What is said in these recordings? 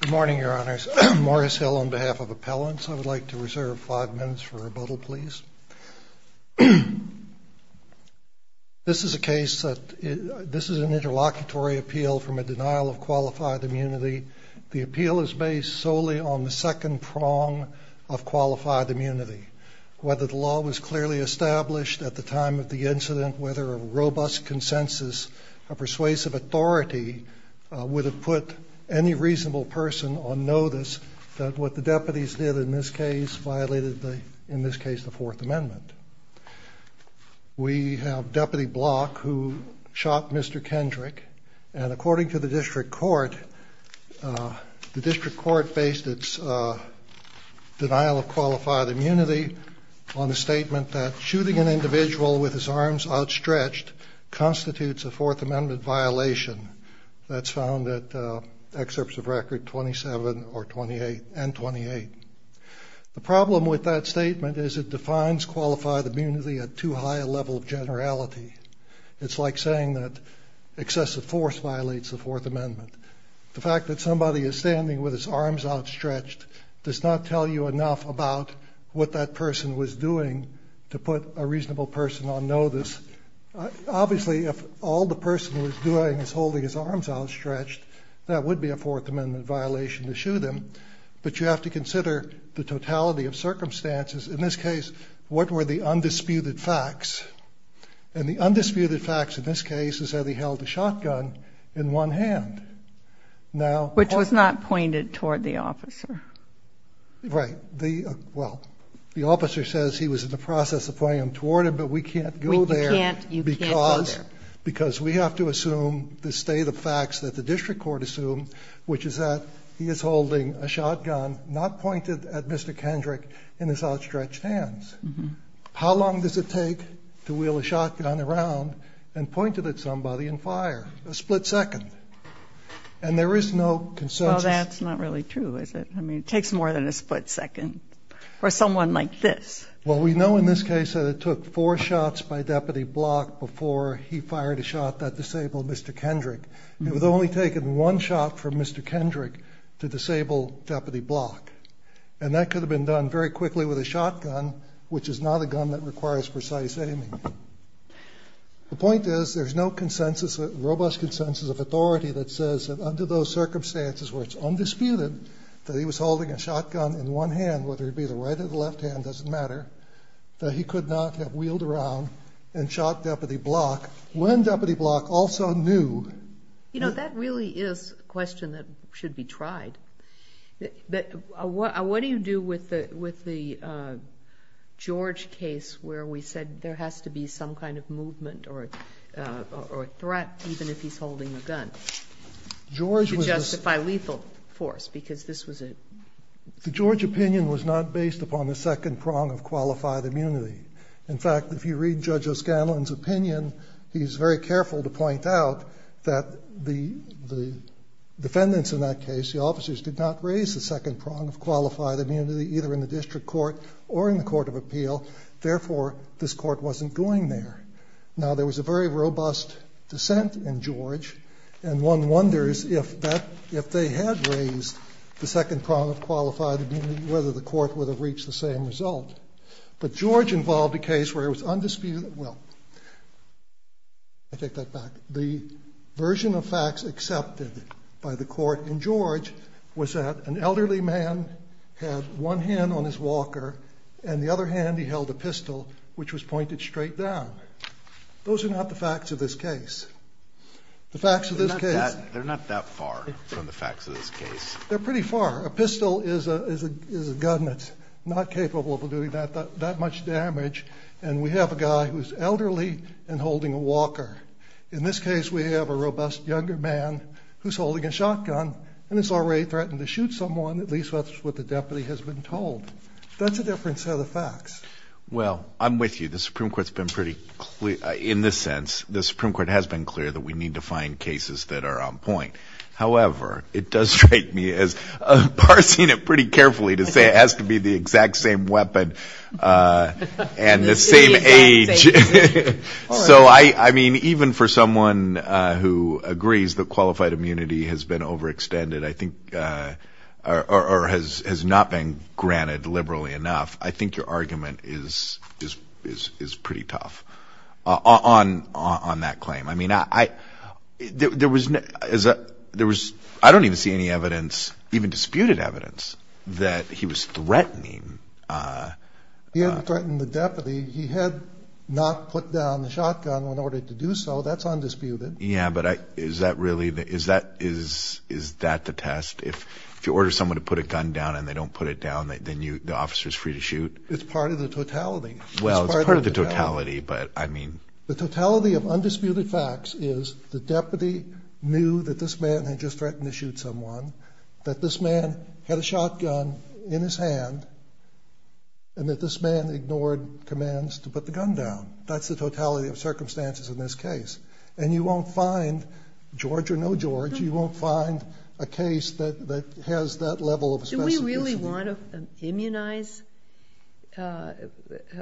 Good morning, your honors. Morris Hill on behalf of appellants. I would like to reserve five minutes for rebuttal, please. This is a case that this is an interlocutory appeal from a denial of qualified immunity. The appeal is based solely on the second prong of qualified immunity. Whether the law was clearly established at the time of the incident, whether a robust consensus, a persuasive authority would have put any reasonable person on notice that what the deputies did in this case violated, in this case, the Fourth Amendment. We have Deputy Block who shot Mr. Kendrick and according to the District Court, the District Court based its denial of qualified immunity on the statement that shooting an individual with his arms outstretched constitutes a Fourth Amendment violation. That's found at excerpts of record 27 and 28. The problem with that statement is it defines qualified immunity at too high a level of generality. It's like saying that excessive force violates the Fourth Amendment. The fact that somebody is standing with his arms outstretched does not tell you enough about what that person was doing to put a reasonable person on notice. Obviously, if all the person was doing is holding his arms outstretched, that would be a Fourth Amendment violation to shoot him, but you have to consider the totality of circumstances. In this case, what were the undisputed facts? And the undisputed facts in this case is that he held a shotgun in one hand. Which was not pointed toward the officer. Right. Well, the officer says he was in the process of pointing him toward him, but we can't go there. You can't go there. Because we have to assume the state of facts that the District Court assumed, which is that he is holding a shotgun not pointed at Mr. Kendrick in his outstretched hands. How long does it take to wheel a shotgun around and point it at somebody and fire? A split second. And there is no consensus. Well, that's not really true, is it? I mean, it takes more than a split second for someone like this. Well, we know in this case that it took four shots by Deputy Block before he fired a shot that disabled Mr. Kendrick. It was only taking one shot from Mr. Kendrick to disable Deputy Block. And that could have been done very quickly with a shotgun, which is not a gun that requires precise aiming. The point is there's no consensus, robust consensus of authority that says that under those circumstances, that he was holding a shotgun in one hand, whether it be the right or the left hand, doesn't matter, that he could not have wheeled around and shot Deputy Block when Deputy Block also knew. You know, that really is a question that should be tried. But what do you do with the George case where we said there has to be some kind of movement or threat, even if he's holding a gun, to make sure that he doesn't get shot? The George opinion was not based upon the second prong of qualified immunity. In fact, if you read Judge O'Scanlan's opinion, he's very careful to point out that the defendants in that case, the officers, did not raise the second prong of qualified immunity, either in the district court or in the Court of Appeal. Therefore, this court wasn't going there. Now, there was a very robust dissent in George, and one wonders if that, if they had raised the second prong of qualified immunity, whether the court would have reached the same result. But George involved a case where it was undisputed, well, I take that back, the version of facts accepted by the court in George was that an elderly man had one hand on his walker and the other hand he held a pistol, which was pointed straight down. Those are not the facts of this case. The facts of this case... They're not that far from the facts of this case. They're pretty far. A pistol is a gun that's not capable of doing that much damage, and we have a guy who's elderly and holding a walker. In this case, we have a robust younger man who's holding a shotgun and has already threatened to shoot someone, at least that's what the deputy has been told. That's a different set of facts. Well, I'm sure the Supreme Court's been pretty clear, in this sense, the Supreme Court has been clear that we need to find cases that are on point. However, it does strike me as parsing it pretty carefully to say it has to be the exact same weapon and the same age. So, I mean, even for someone who agrees that qualified immunity has been overextended, I think, or has not been granted liberally enough, I think your argument is pretty tough on that claim. I mean, I don't even see any evidence, even disputed evidence, that he was threatening... He hadn't threatened the deputy. He had not put down the shotgun in order to do so. That's undisputed. Yeah, but is that the test? If you order someone to put a gun down and they don't put it down, then the officer's free to shoot? It's part of the totality. Well, it's part of the totality, but I mean... The totality of undisputed facts is the deputy knew that this man had just threatened to shoot someone, that this man had a shotgun in his hand, and that this man ignored commands to put the gun down. That's the totality of circumstances in this case. And you won't find, George or no George, you won't find a case that has that level of specificity. Do we really want to immunize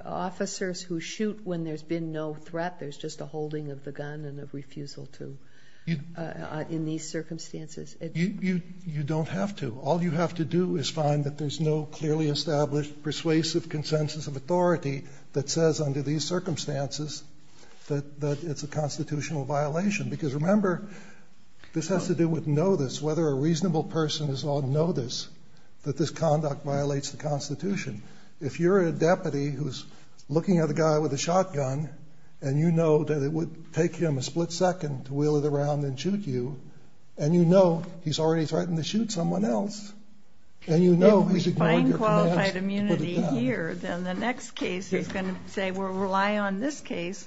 officers who shoot when there's been no threat, there's just a holding of the gun and a refusal to, in these circumstances? You don't have to. All you have to do is find that there's no clearly established persuasive consensus of authority that says under these circumstances that it's a constitutional violation. Because remember, this has to do with know this, whether a reasonable person is on notice that this conduct violates the Constitution. If you're a deputy who's looking at a guy with a shotgun, and you know that it would take him a split second to wheel it around and shoot you, and you know he's already threatened to shoot someone else, and you know he's ignored your commands to put it down. If we find qualified immunity here, then the next case is going to say we'll rely on this case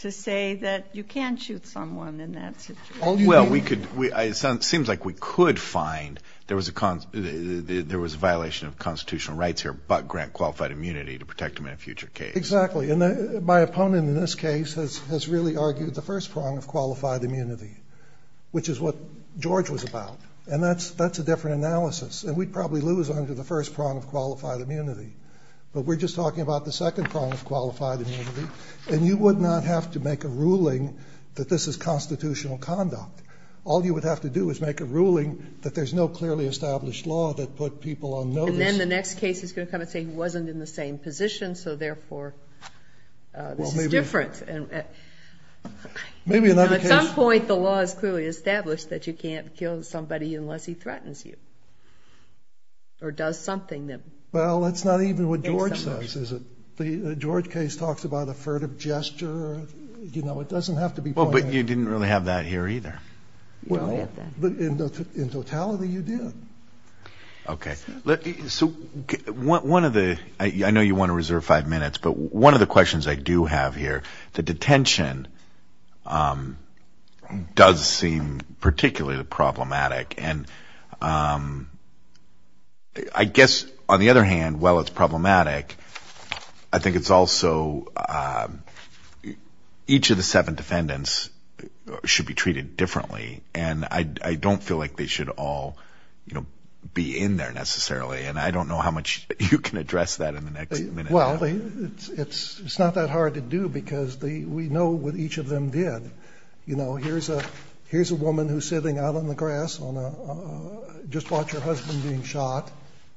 to say that you can't shoot someone in that situation. Well, it seems like we could find there was a violation of constitutional rights here, but grant qualified immunity to protect him in a future case. Exactly. And my opponent in this case has really argued the first prong of qualified immunity, which is what George was about, and that's a different analysis. And we'd probably lose under the first prong of qualified immunity, but we're just talking about the second prong of qualified immunity. And you would not have to make a ruling that this is constitutional conduct. All you would have to do is make a ruling that there's no clearly established law that put people on notice. And then the next case is going to come and say he wasn't in the same position, so therefore this is different. At some point the law is clearly established that you can't kill somebody unless he threatens you, or does something. Well, that's not even what George says, is it? The George case talks about a furtive gesture. You know, it doesn't have to be pointed out. Well, but you didn't really have that here either. Well, in totality you did. Okay. So one of the, I know you want to reserve five minutes, but one of the questions I do have here, the detention does seem particularly problematic. And I guess on the other hand, while it's problematic, I think it's also each of the seven defendants should be treated differently. And I don't feel like they should all, you know, be in there necessarily. And I don't know how much you can address that in the next minute. Well, it's not that hard to do because we know what each of them did. You know, here's a woman who's sitting out on the grass, just watched her husband being shot.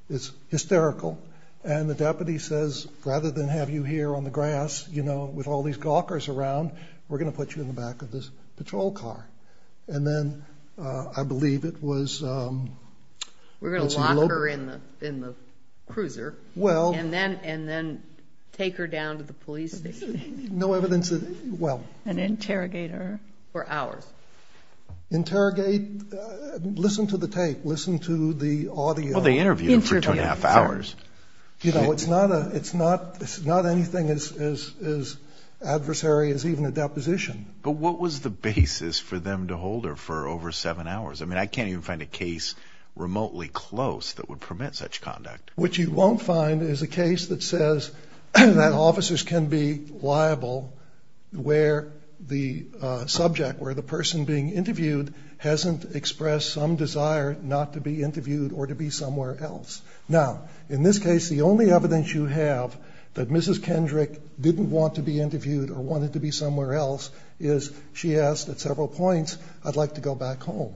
It's hysterical. And the deputy says, rather than have you here on the grass, you know, with all these gawkers around, we're going to put you in the back of this patrol car. And then I believe it was... We're going to lock her in the cruiser. Well... And then take her down to the police station. No evidence that, well... And interrogate her for hours. Interrogate? Listen to the tape. Listen to the audio. Well, they interviewed her for two and a half hours. You know, it's not anything as adversary as even a deposition. But what was the basis for them to hold her for over seven hours? I mean, I can't even find a case remotely close that would permit such conduct. What you won't find is a case that says that officers can be liable where the subject, where the person being interviewed, hasn't expressed some desire not to be interviewed or to be somewhere else. Now, in this case, the only evidence you have that Mrs. Kendrick didn't want to be interviewed or wanted to be somewhere else is she asked at several points, I'd like to go back home.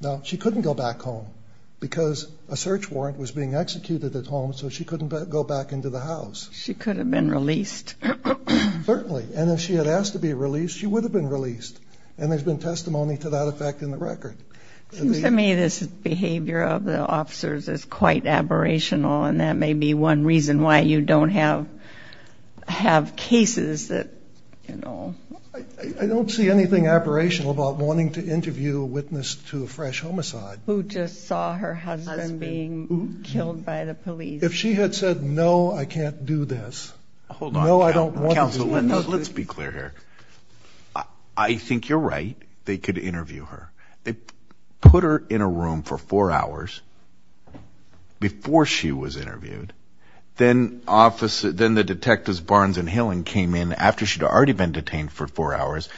Now, she couldn't go back home because a search warrant was being executed at home so she couldn't go back into the house. She could have been released. Certainly. And if she had asked to be released, she would have been released. And there's been testimony to that effect in the record. To me, this behavior of the officers is quite aberrational and that may be one reason why you don't have cases that, you know... I don't see anything aberrational about wanting to interview a witness to a fresh homicide. Who just saw her husband being killed by the police. If she had said, no, I can't do this. No, I don't want to do this. Let's be clear here. I think you're right. They could interview her. Then the detectives Barnes and Hillen came in after she'd already been detained for four hours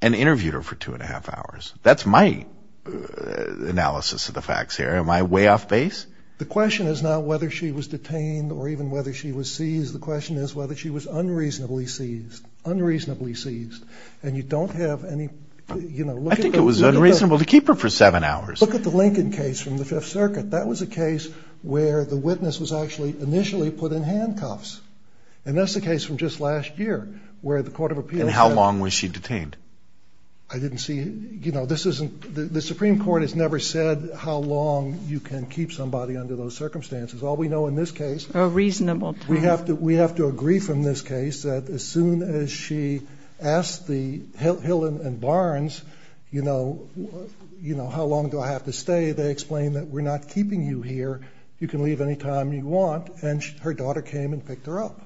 and interviewed her for two and a half hours. That's my analysis of the facts here. Am I way off base? The question is not whether she was detained or even whether she was seized. The question is whether she was unreasonably seized. Unreasonably seized. And you don't have any... I think it was unreasonable to keep her for seven hours. Look at the Lincoln case from the Fifth Circuit. That was a case where the witness was actually initially put in handcuffs. And that's the case from just last year where the Court of Appeals... And how long was she detained? I didn't see... You know, this isn't... The Supreme Court has never said how long you can keep somebody under those circumstances. All we know in this case... A reasonable time. We have to agree from this case that as soon as she asked the Hillen and Barnes, you know, how long do I have to stay? They explain that we're not keeping you here. You can leave any time you want. And her daughter came and picked her up.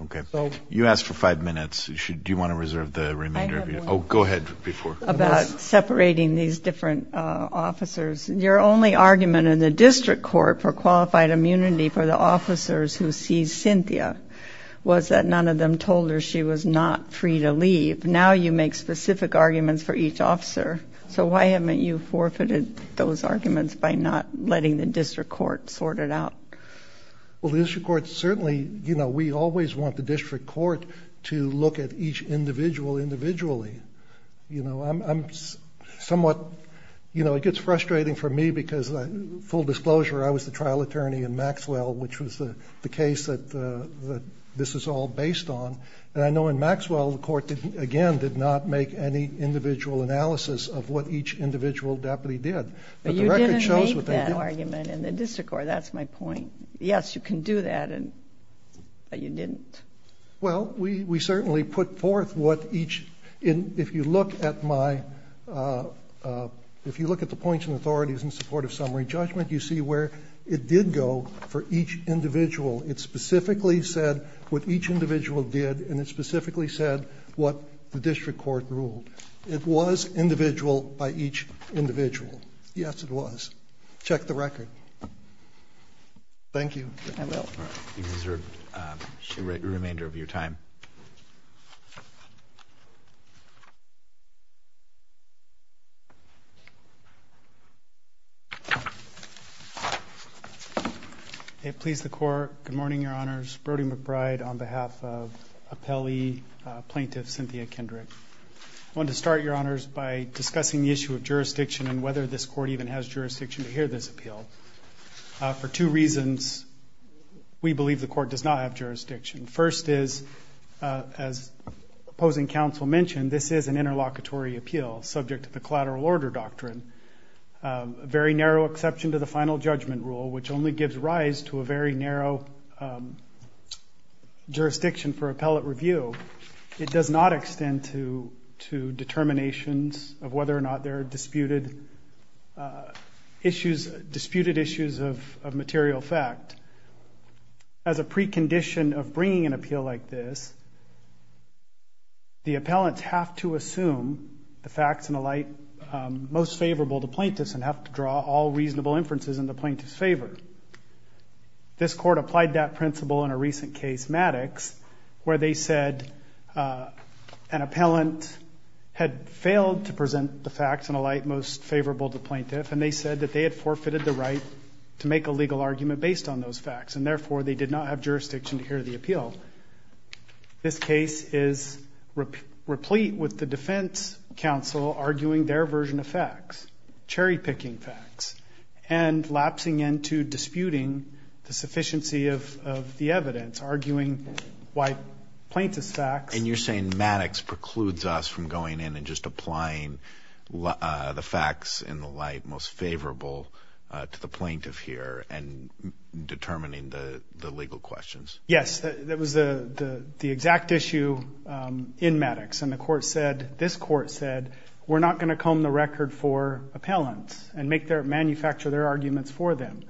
Okay. You asked for five minutes. Do you want to reserve the remainder of your... I have one. Oh, go ahead. Before... About separating these different officers. Your only argument in the district court for qualified immunity for the officers who seized Cynthia was that none of them told her she was not free to leave. Now you make specific arguments for each officer. So why haven't you forfeited those arguments by not letting the district court sort it out? Well, the district court certainly... You know, we always want the district court to look at each individual individually. You know, I'm somewhat... You know, it gets frustrating for me because full disclosure, I was the trial attorney in Maxwell, which was the case that this is all based on. And I know in Maxwell, the court, again, did not make any individual analysis of what each individual deputy did. But you didn't make that argument in the district court. That's my point. Yes, you can do that, but you didn't. Well, we certainly put forth what each... If you look at my... If you look at the points and authorities in support of summary judgment, you see where it did go for each individual. It specifically said what each individual did, and it specifically said what the district court ruled. It was individual by each individual. Yes, it was. Check the record. Thank you. I will. You deserve the remainder of your time. Thank you. It pleased the court. Good morning, Your Honors. Brody McBride on behalf of appellee plaintiff Cynthia Kendrick. I want to start, Your Honors, by discussing the issue of jurisdiction and whether this court even has jurisdiction to hear this appeal. For two reasons, we believe the court does not have jurisdiction. First is, as opposing counsel mentioned, this is an interlocutory appeal subject to the collateral order doctrine, a very narrow exception to the final judgment rule, which only gives rise to a very narrow jurisdiction for appellate review. It does not extend to determinations of whether or not there are disputed issues of material fact. As a precondition of bringing an appeal like this, the appellants have to assume the facts and the light most favorable to plaintiffs and have to draw all reasonable inferences in the plaintiff's favor. This court applied that principle in a recent case, Maddox, where they said an appellant had failed to present the facts and the light most favorable to plaintiffs, and they said that they had forfeited the right to make a legal argument based on those facts, and therefore they did not have jurisdiction to hear the appeal. This case is replete with the defense counsel arguing their version of facts, cherry-picking facts, and lapsing into disputing the sufficiency of the evidence, arguing why plaintiff's facts. And you're saying Maddox precludes us from going in and just applying the facts and the light most favorable to the plaintiff here and determining the legal questions. Yes. That was the exact issue in Maddox, and this court said we're not going to comb the record for appellants and manufacture their arguments for them.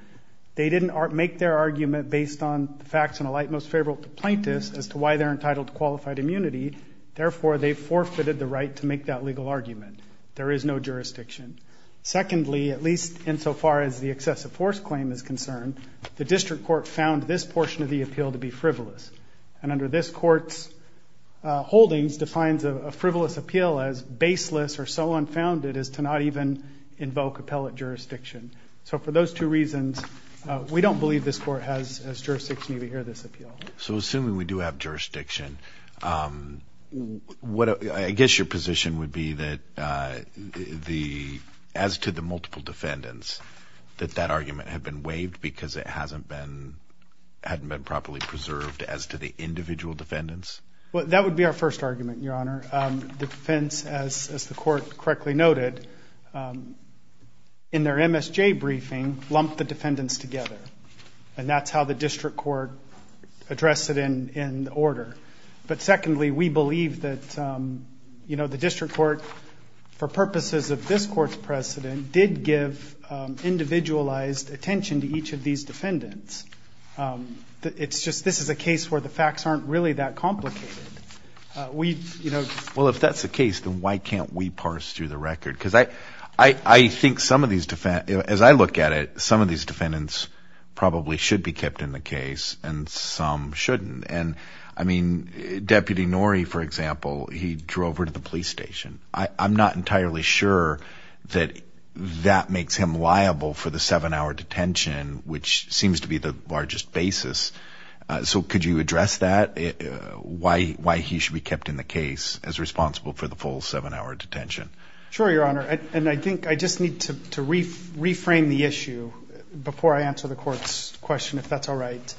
They didn't make their argument based on the facts and the light most favorable to plaintiffs as to why they're entitled to qualified immunity. Therefore, they forfeited the right to make that legal argument. There is no jurisdiction. Secondly, at least insofar as the excessive force claim is concerned, the district court found this portion of the appeal to be frivolous, and under this court's holdings defines a frivolous appeal as baseless or so unfounded as to not even invoke appellate jurisdiction. So for those two reasons, we don't believe this court has jurisdiction to hear this appeal. So assuming we do have jurisdiction, I guess your position would be that as to the multiple defendants, that that argument had been waived because it hadn't been properly preserved as to the individual defendants? Well, that would be our first argument, Your Honor. The defense, as the court correctly noted, in their MSJ briefing lumped the defendants together, and that's how the district court addressed it in order. But secondly, we believe that the district court, for purposes of this court's precedent, did give individualized attention to each of these defendants. It's just this is a case where the facts aren't really that complicated. Well, if that's the case, then why can't we parse through the record? Because I think some of these defendants, as I look at it, some of these defendants probably should be kept in the case and some shouldn't. And, I mean, Deputy Norrie, for example, he drove her to the police station. I'm not entirely sure that that makes him liable for the seven-hour detention, which seems to be the largest basis. So could you address that, why he should be kept in the case as responsible for the full seven-hour detention? Sure, Your Honor, and I think I just need to reframe the issue before I answer the court's question, if that's all right.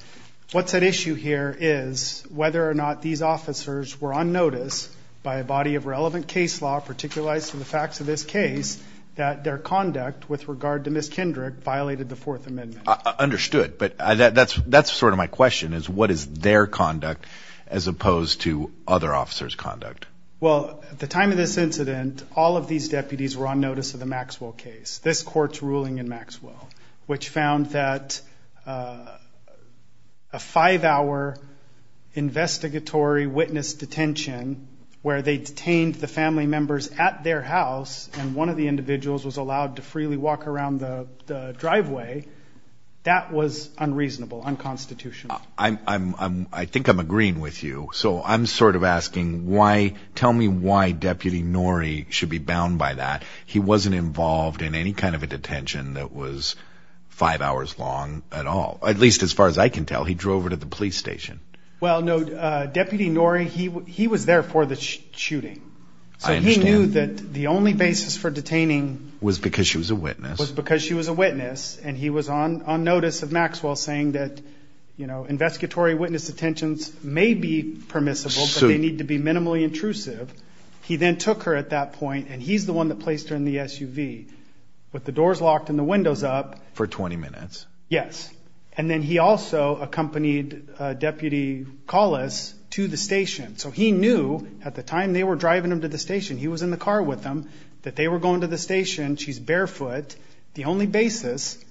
What's at issue here is whether or not these officers were on notice by a body of relevant case law, particularizing the facts of this case, that their conduct with regard to Ms. Kendrick violated the Fourth Amendment. Understood, but that's sort of my question, is what is their conduct as opposed to other officers' conduct? Well, at the time of this incident, all of these deputies were on notice of the Maxwell case, this court's ruling in Maxwell, which found that a five-hour investigatory witness detention where they detained the family members at their house and one of the individuals was allowed to freely walk around the driveway, that was unreasonable, unconstitutional. I think I'm agreeing with you. So I'm sort of asking why, tell me why Deputy Norrie should be bound by that. He wasn't involved in any kind of a detention that was five hours long at all, at least as far as I can tell. He drove her to the police station. Well, no, Deputy Norrie, he was there for the shooting. I understand. So he knew that the only basis for detaining... Was because she was a witness. Was because she was a witness, and he was on notice of Maxwell saying that investigatory witness detentions may be permissible, but they need to be minimally intrusive. He then took her at that point, and he's the one that placed her in the SUV with the doors locked and the windows up. For 20 minutes. Yes. And then he also accompanied Deputy Collis to the station. So he knew at the time they were driving him to the station, he was in the car with them, that they were going to the station, she's barefoot. The only basis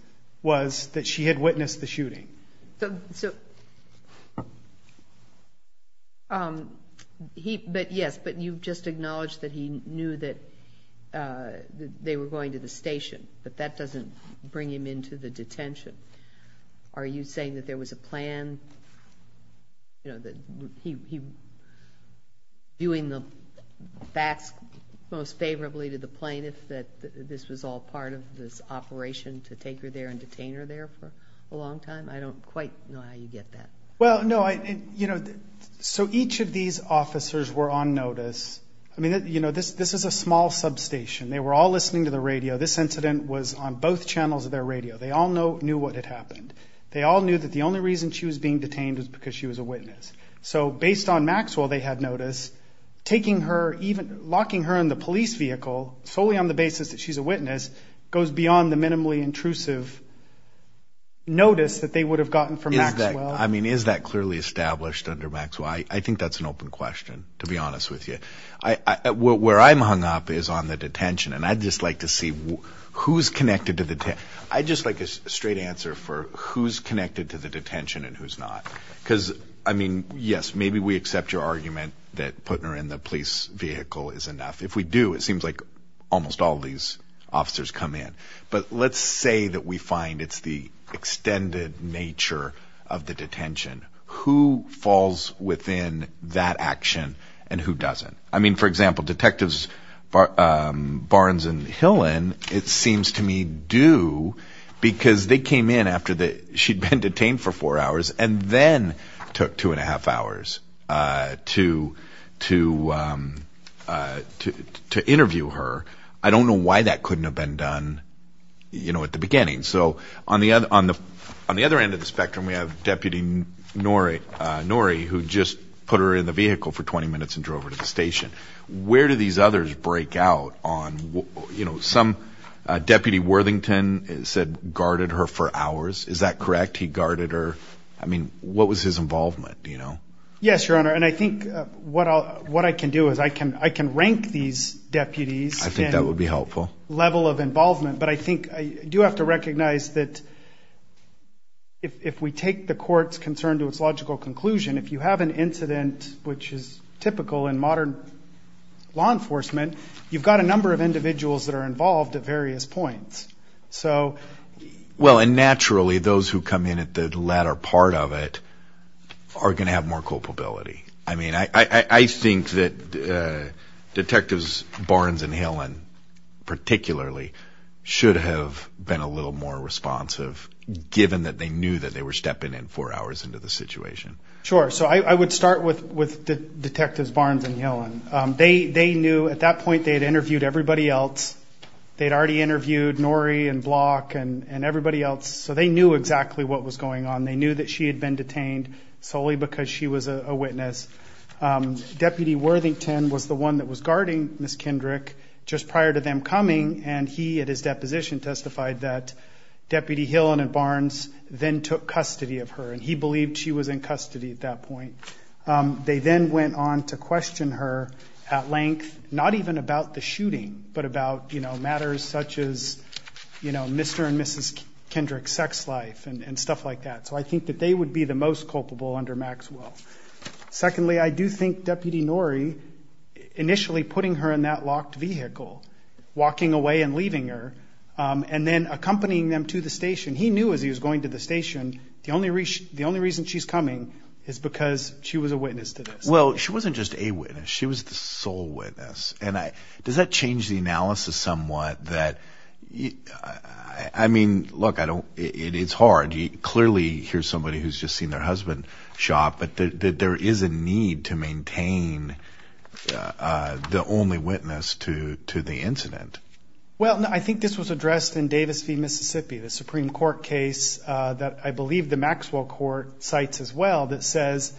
was that she had witnessed the shooting. Yes, but you just acknowledged that he knew that they were going to the station, but that doesn't bring him into the detention. Are you saying that there was a plan? You know, that he was doing the facts most favorably to the plaintiff, that this was all part of this operation to take her there and detain her there for a long time? I don't quite know how you get that. Well, no, you know, so each of these officers were on notice. I mean, you know, this is a small substation. They were all listening to the radio. This incident was on both channels of their radio. They all knew what had happened. They all knew that the only reason she was being detained was because she was a witness. So based on Maxwell they had notice, locking her in the police vehicle solely on the basis that she's a witness goes beyond the minimally intrusive notice that they would have gotten from Maxwell. I mean, is that clearly established under Maxwell? I think that's an open question, to be honest with you. Where I'm hung up is on the detention, and I'd just like to see who's connected to the detention. I'd just like a straight answer for who's connected to the detention and who's not. Because, I mean, yes, maybe we accept your argument that putting her in the police vehicle is enough. If we do, it seems like almost all these officers come in. But let's say that we find it's the extended nature of the detention. Who falls within that action and who doesn't? I mean, for example, Detectives Barnes and Hillen, it seems to me, do because they came in after she'd been detained for four hours and then took two and a half hours to interview her. I don't know why that couldn't have been done at the beginning. So on the other end of the spectrum we have Deputy Norrie, who just put her in the vehicle for 20 minutes and drove her to the station. Where do these others break out on, you know, some Deputy Worthington said guarded her for hours. Is that correct? He guarded her. I mean, what was his involvement, do you know? Yes, Your Honor, and I think what I can do is I can rank these deputies. I think that would be helpful. Level of involvement. But I think I do have to recognize that if we take the court's concern to its logical conclusion, if you have an incident which is typical in modern law enforcement, you've got a number of individuals that are involved at various points. Well, and naturally those who come in at the latter part of it are going to have more culpability. I mean, I think that Detectives Barnes and Hillen particularly should have been a little more responsive, given that they knew that they were stepping in four hours into the situation. Sure. So I would start with Detectives Barnes and Hillen. They knew at that point they had interviewed everybody else. They had already interviewed Norrie and Block and everybody else, so they knew exactly what was going on. They knew that she had been detained solely because she was a witness. Deputy Worthington was the one that was guarding Ms. Kendrick just prior to them coming, and he at his deposition testified that Deputy Hillen and Barnes then took custody of her, and he believed she was in custody at that point. They then went on to question her at length, not even about the shooting, but about matters such as Mr. and Mrs. Kendrick's sex life and stuff like that. So I think that they would be the most culpable under Maxwell. Secondly, I do think Deputy Norrie initially putting her in that locked vehicle, walking away and leaving her, and then accompanying them to the station. The only reason she's coming is because she was a witness to this. Well, she wasn't just a witness. She was the sole witness, and does that change the analysis somewhat? I mean, look, it's hard. Clearly here's somebody who's just seen their husband shot, but there is a need to maintain the only witness to the incident. Well, I think this was addressed in Davis v. Mississippi, the Supreme Court case that I believe the Maxwell court cites as well that says,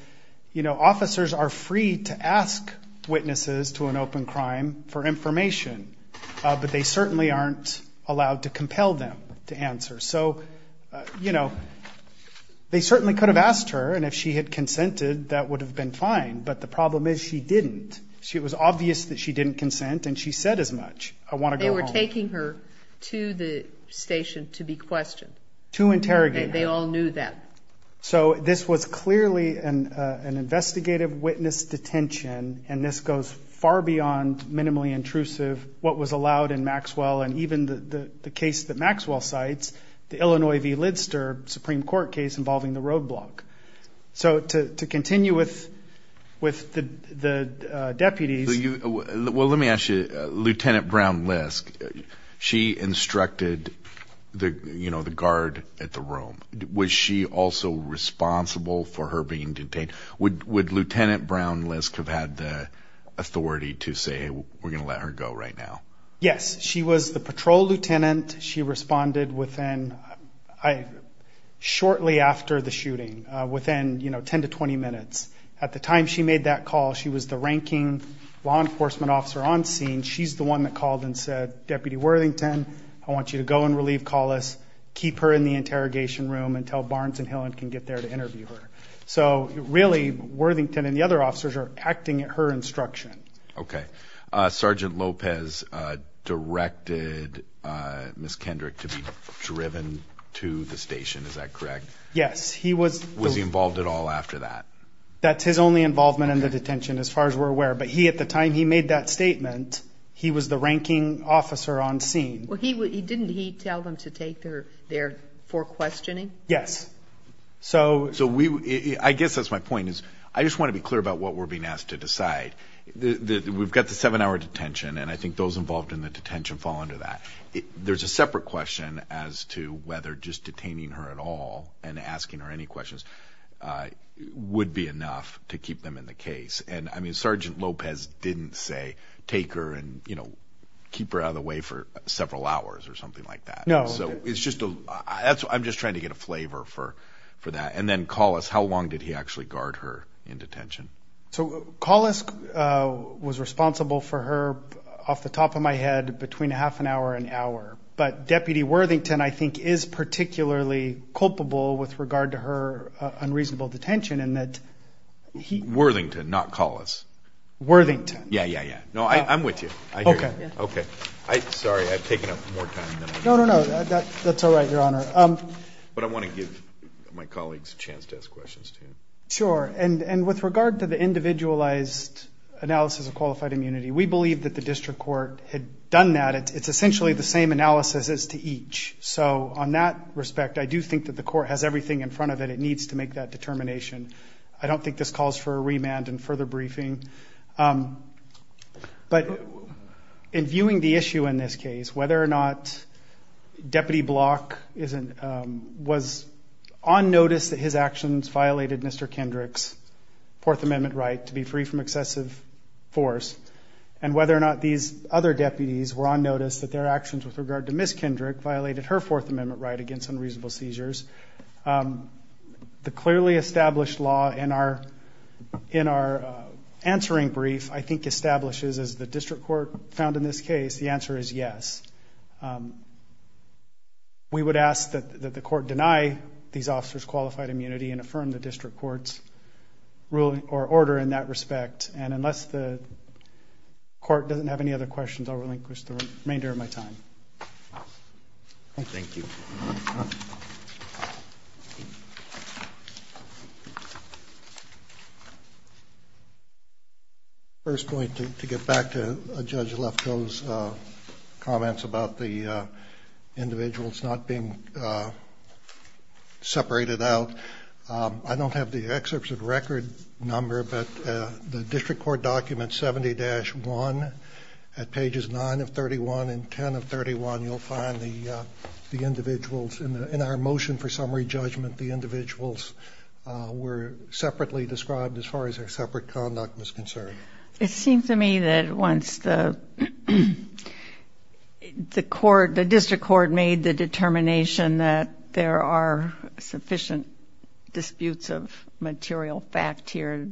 you know, officers are free to ask witnesses to an open crime for information, but they certainly aren't allowed to compel them to answer. So, you know, they certainly could have asked her, and if she had consented that would have been fine, but the problem is she didn't. It was obvious that she didn't consent, and she said as much, I want to go home. They were taking her to the station to be questioned. To interrogate her. They all knew that. So this was clearly an investigative witness detention, and this goes far beyond minimally intrusive what was allowed in Maxwell and even the case that Maxwell cites, the Illinois v. Lidster Supreme Court case involving the roadblock. So to continue with the deputies. Well, let me ask you, Lieutenant Brown Lisk, she instructed the guard at the room. Was she also responsible for her being detained? Would Lieutenant Brown Lisk have had the authority to say we're going to let her go right now? Yes, she was the patrol lieutenant. She responded shortly after the shooting, within 10 to 20 minutes. At the time she made that call, she was the ranking law enforcement officer on scene. She's the one that called and said, Deputy Worthington, I want you to go and relieve Collis. Keep her in the interrogation room until Barnes and Hillen can get there to interview her. So really Worthington and the other officers are acting at her instruction. Okay. Sergeant Lopez directed Ms. Kendrick to be driven to the station. Is that correct? Yes. Was he involved at all after that? That's his only involvement in the detention, as far as we're aware. But at the time he made that statement, he was the ranking officer on scene. Well, didn't he tell them to take her there for questioning? Yes. So I guess that's my point is I just want to be clear about what we're being asked to decide. We've got the seven-hour detention, and I think those involved in the detention fall under that. There's a separate question as to whether just detaining her at all and asking her any questions would be enough to keep them in the case. And, I mean, Sergeant Lopez didn't say take her and, you know, keep her out of the way for several hours or something like that. No. So it's just a – I'm just trying to get a flavor for that. And then Collis, how long did he actually guard her in detention? So Collis was responsible for her off the top of my head between a half an hour and an hour. But Deputy Worthington, I think, is particularly culpable with regard to her unreasonable detention in that he – Worthington, not Collis. Worthington. Yeah, yeah, yeah. No, I'm with you. I hear you. Okay. Okay. Sorry, I've taken up more time than I need. No, no, no. That's all right, Your Honor. But I want to give my colleagues a chance to ask questions, too. Sure. And with regard to the individualized analysis of qualified immunity, we believe that the district court had done that. It's essentially the same analysis as to each. So on that respect, I do think that the court has everything in front of it. It needs to make that determination. I don't think this calls for a remand and further briefing. But in viewing the issue in this case, whether or not Deputy Block was on notice that his actions violated Mr. Kendrick's Fourth Amendment right to be free from excessive force, and whether or not these other deputies were on notice that their actions with regard to Miss Kendrick violated her Fourth Amendment right against unreasonable seizures, the clearly established law in our answering brief, I think, establishes, as the district court found in this case, the answer is yes. We would ask that the court deny these officers qualified immunity and affirm the district court's order in that respect. And unless the court doesn't have any other questions, I'll relinquish the remainder of my time. Thank you. Thank you. First point, to get back to Judge Lefkoe's comments about the individuals not being separated out, I don't have the excerpts of record number, but the district court document 70-1 at pages 9 of 31 and 10 of 31, you'll find the individuals in our motion for summary judgment, the individuals were separately described as far as their separate conduct was concerned. It seems to me that once the district court made the determination that there are sufficient disputes of material fact here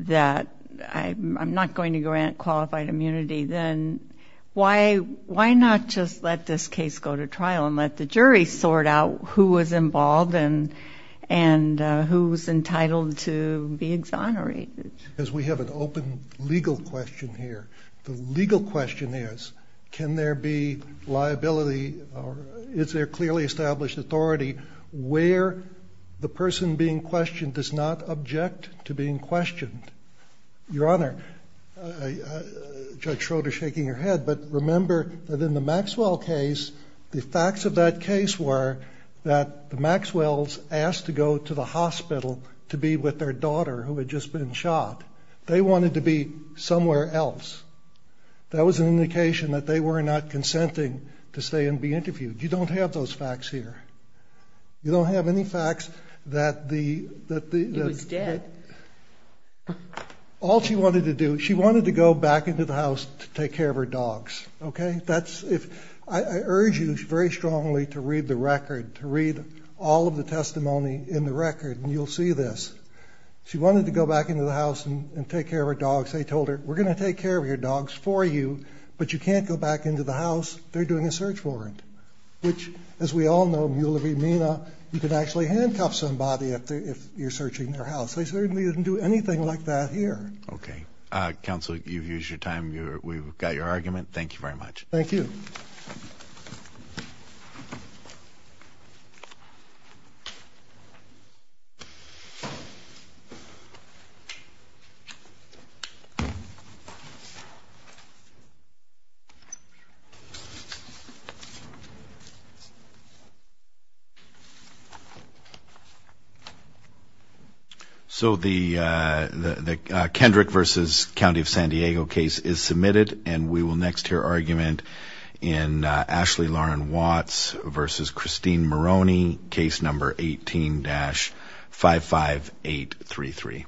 that I'm not going to grant qualified immunity, then why not just let this case go to trial and let the jury sort out who was involved and who was entitled to be exonerated? Because we have an open legal question here. The legal question is, can there be liability or is there clearly established authority where the person being questioned does not object to being questioned? Your Honor, Judge Schroeder is shaking her head, but remember that in the Maxwell case, the facts of that case were that the Maxwells asked to go to the hospital to be with their daughter, who had just been shot. They wanted to be somewhere else. That was an indication that they were not consenting to stay and be interviewed. You don't have those facts here. You don't have any facts that the... He was dead. All she wanted to do, she wanted to go back into the house to take care of her dogs. Okay? I urge you very strongly to read the record, to read all of the testimony in the record, and you'll see this. She wanted to go back into the house and take care of her dogs. They told her, we're going to take care of your dogs for you, but you can't go back into the house. They're doing a search warrant, which, as we all know, Mueller v. Mina, you could actually handcuff somebody if you're searching their house. They certainly didn't do anything like that here. Okay. Counsel, you've used your time. We've got your argument. Thank you very much. Thank you. So the Kendrick v. County of San Diego case is submitted, and we will next hear argument in Ashley Lauren Watts v. Christine Maroney, case number 18-55833.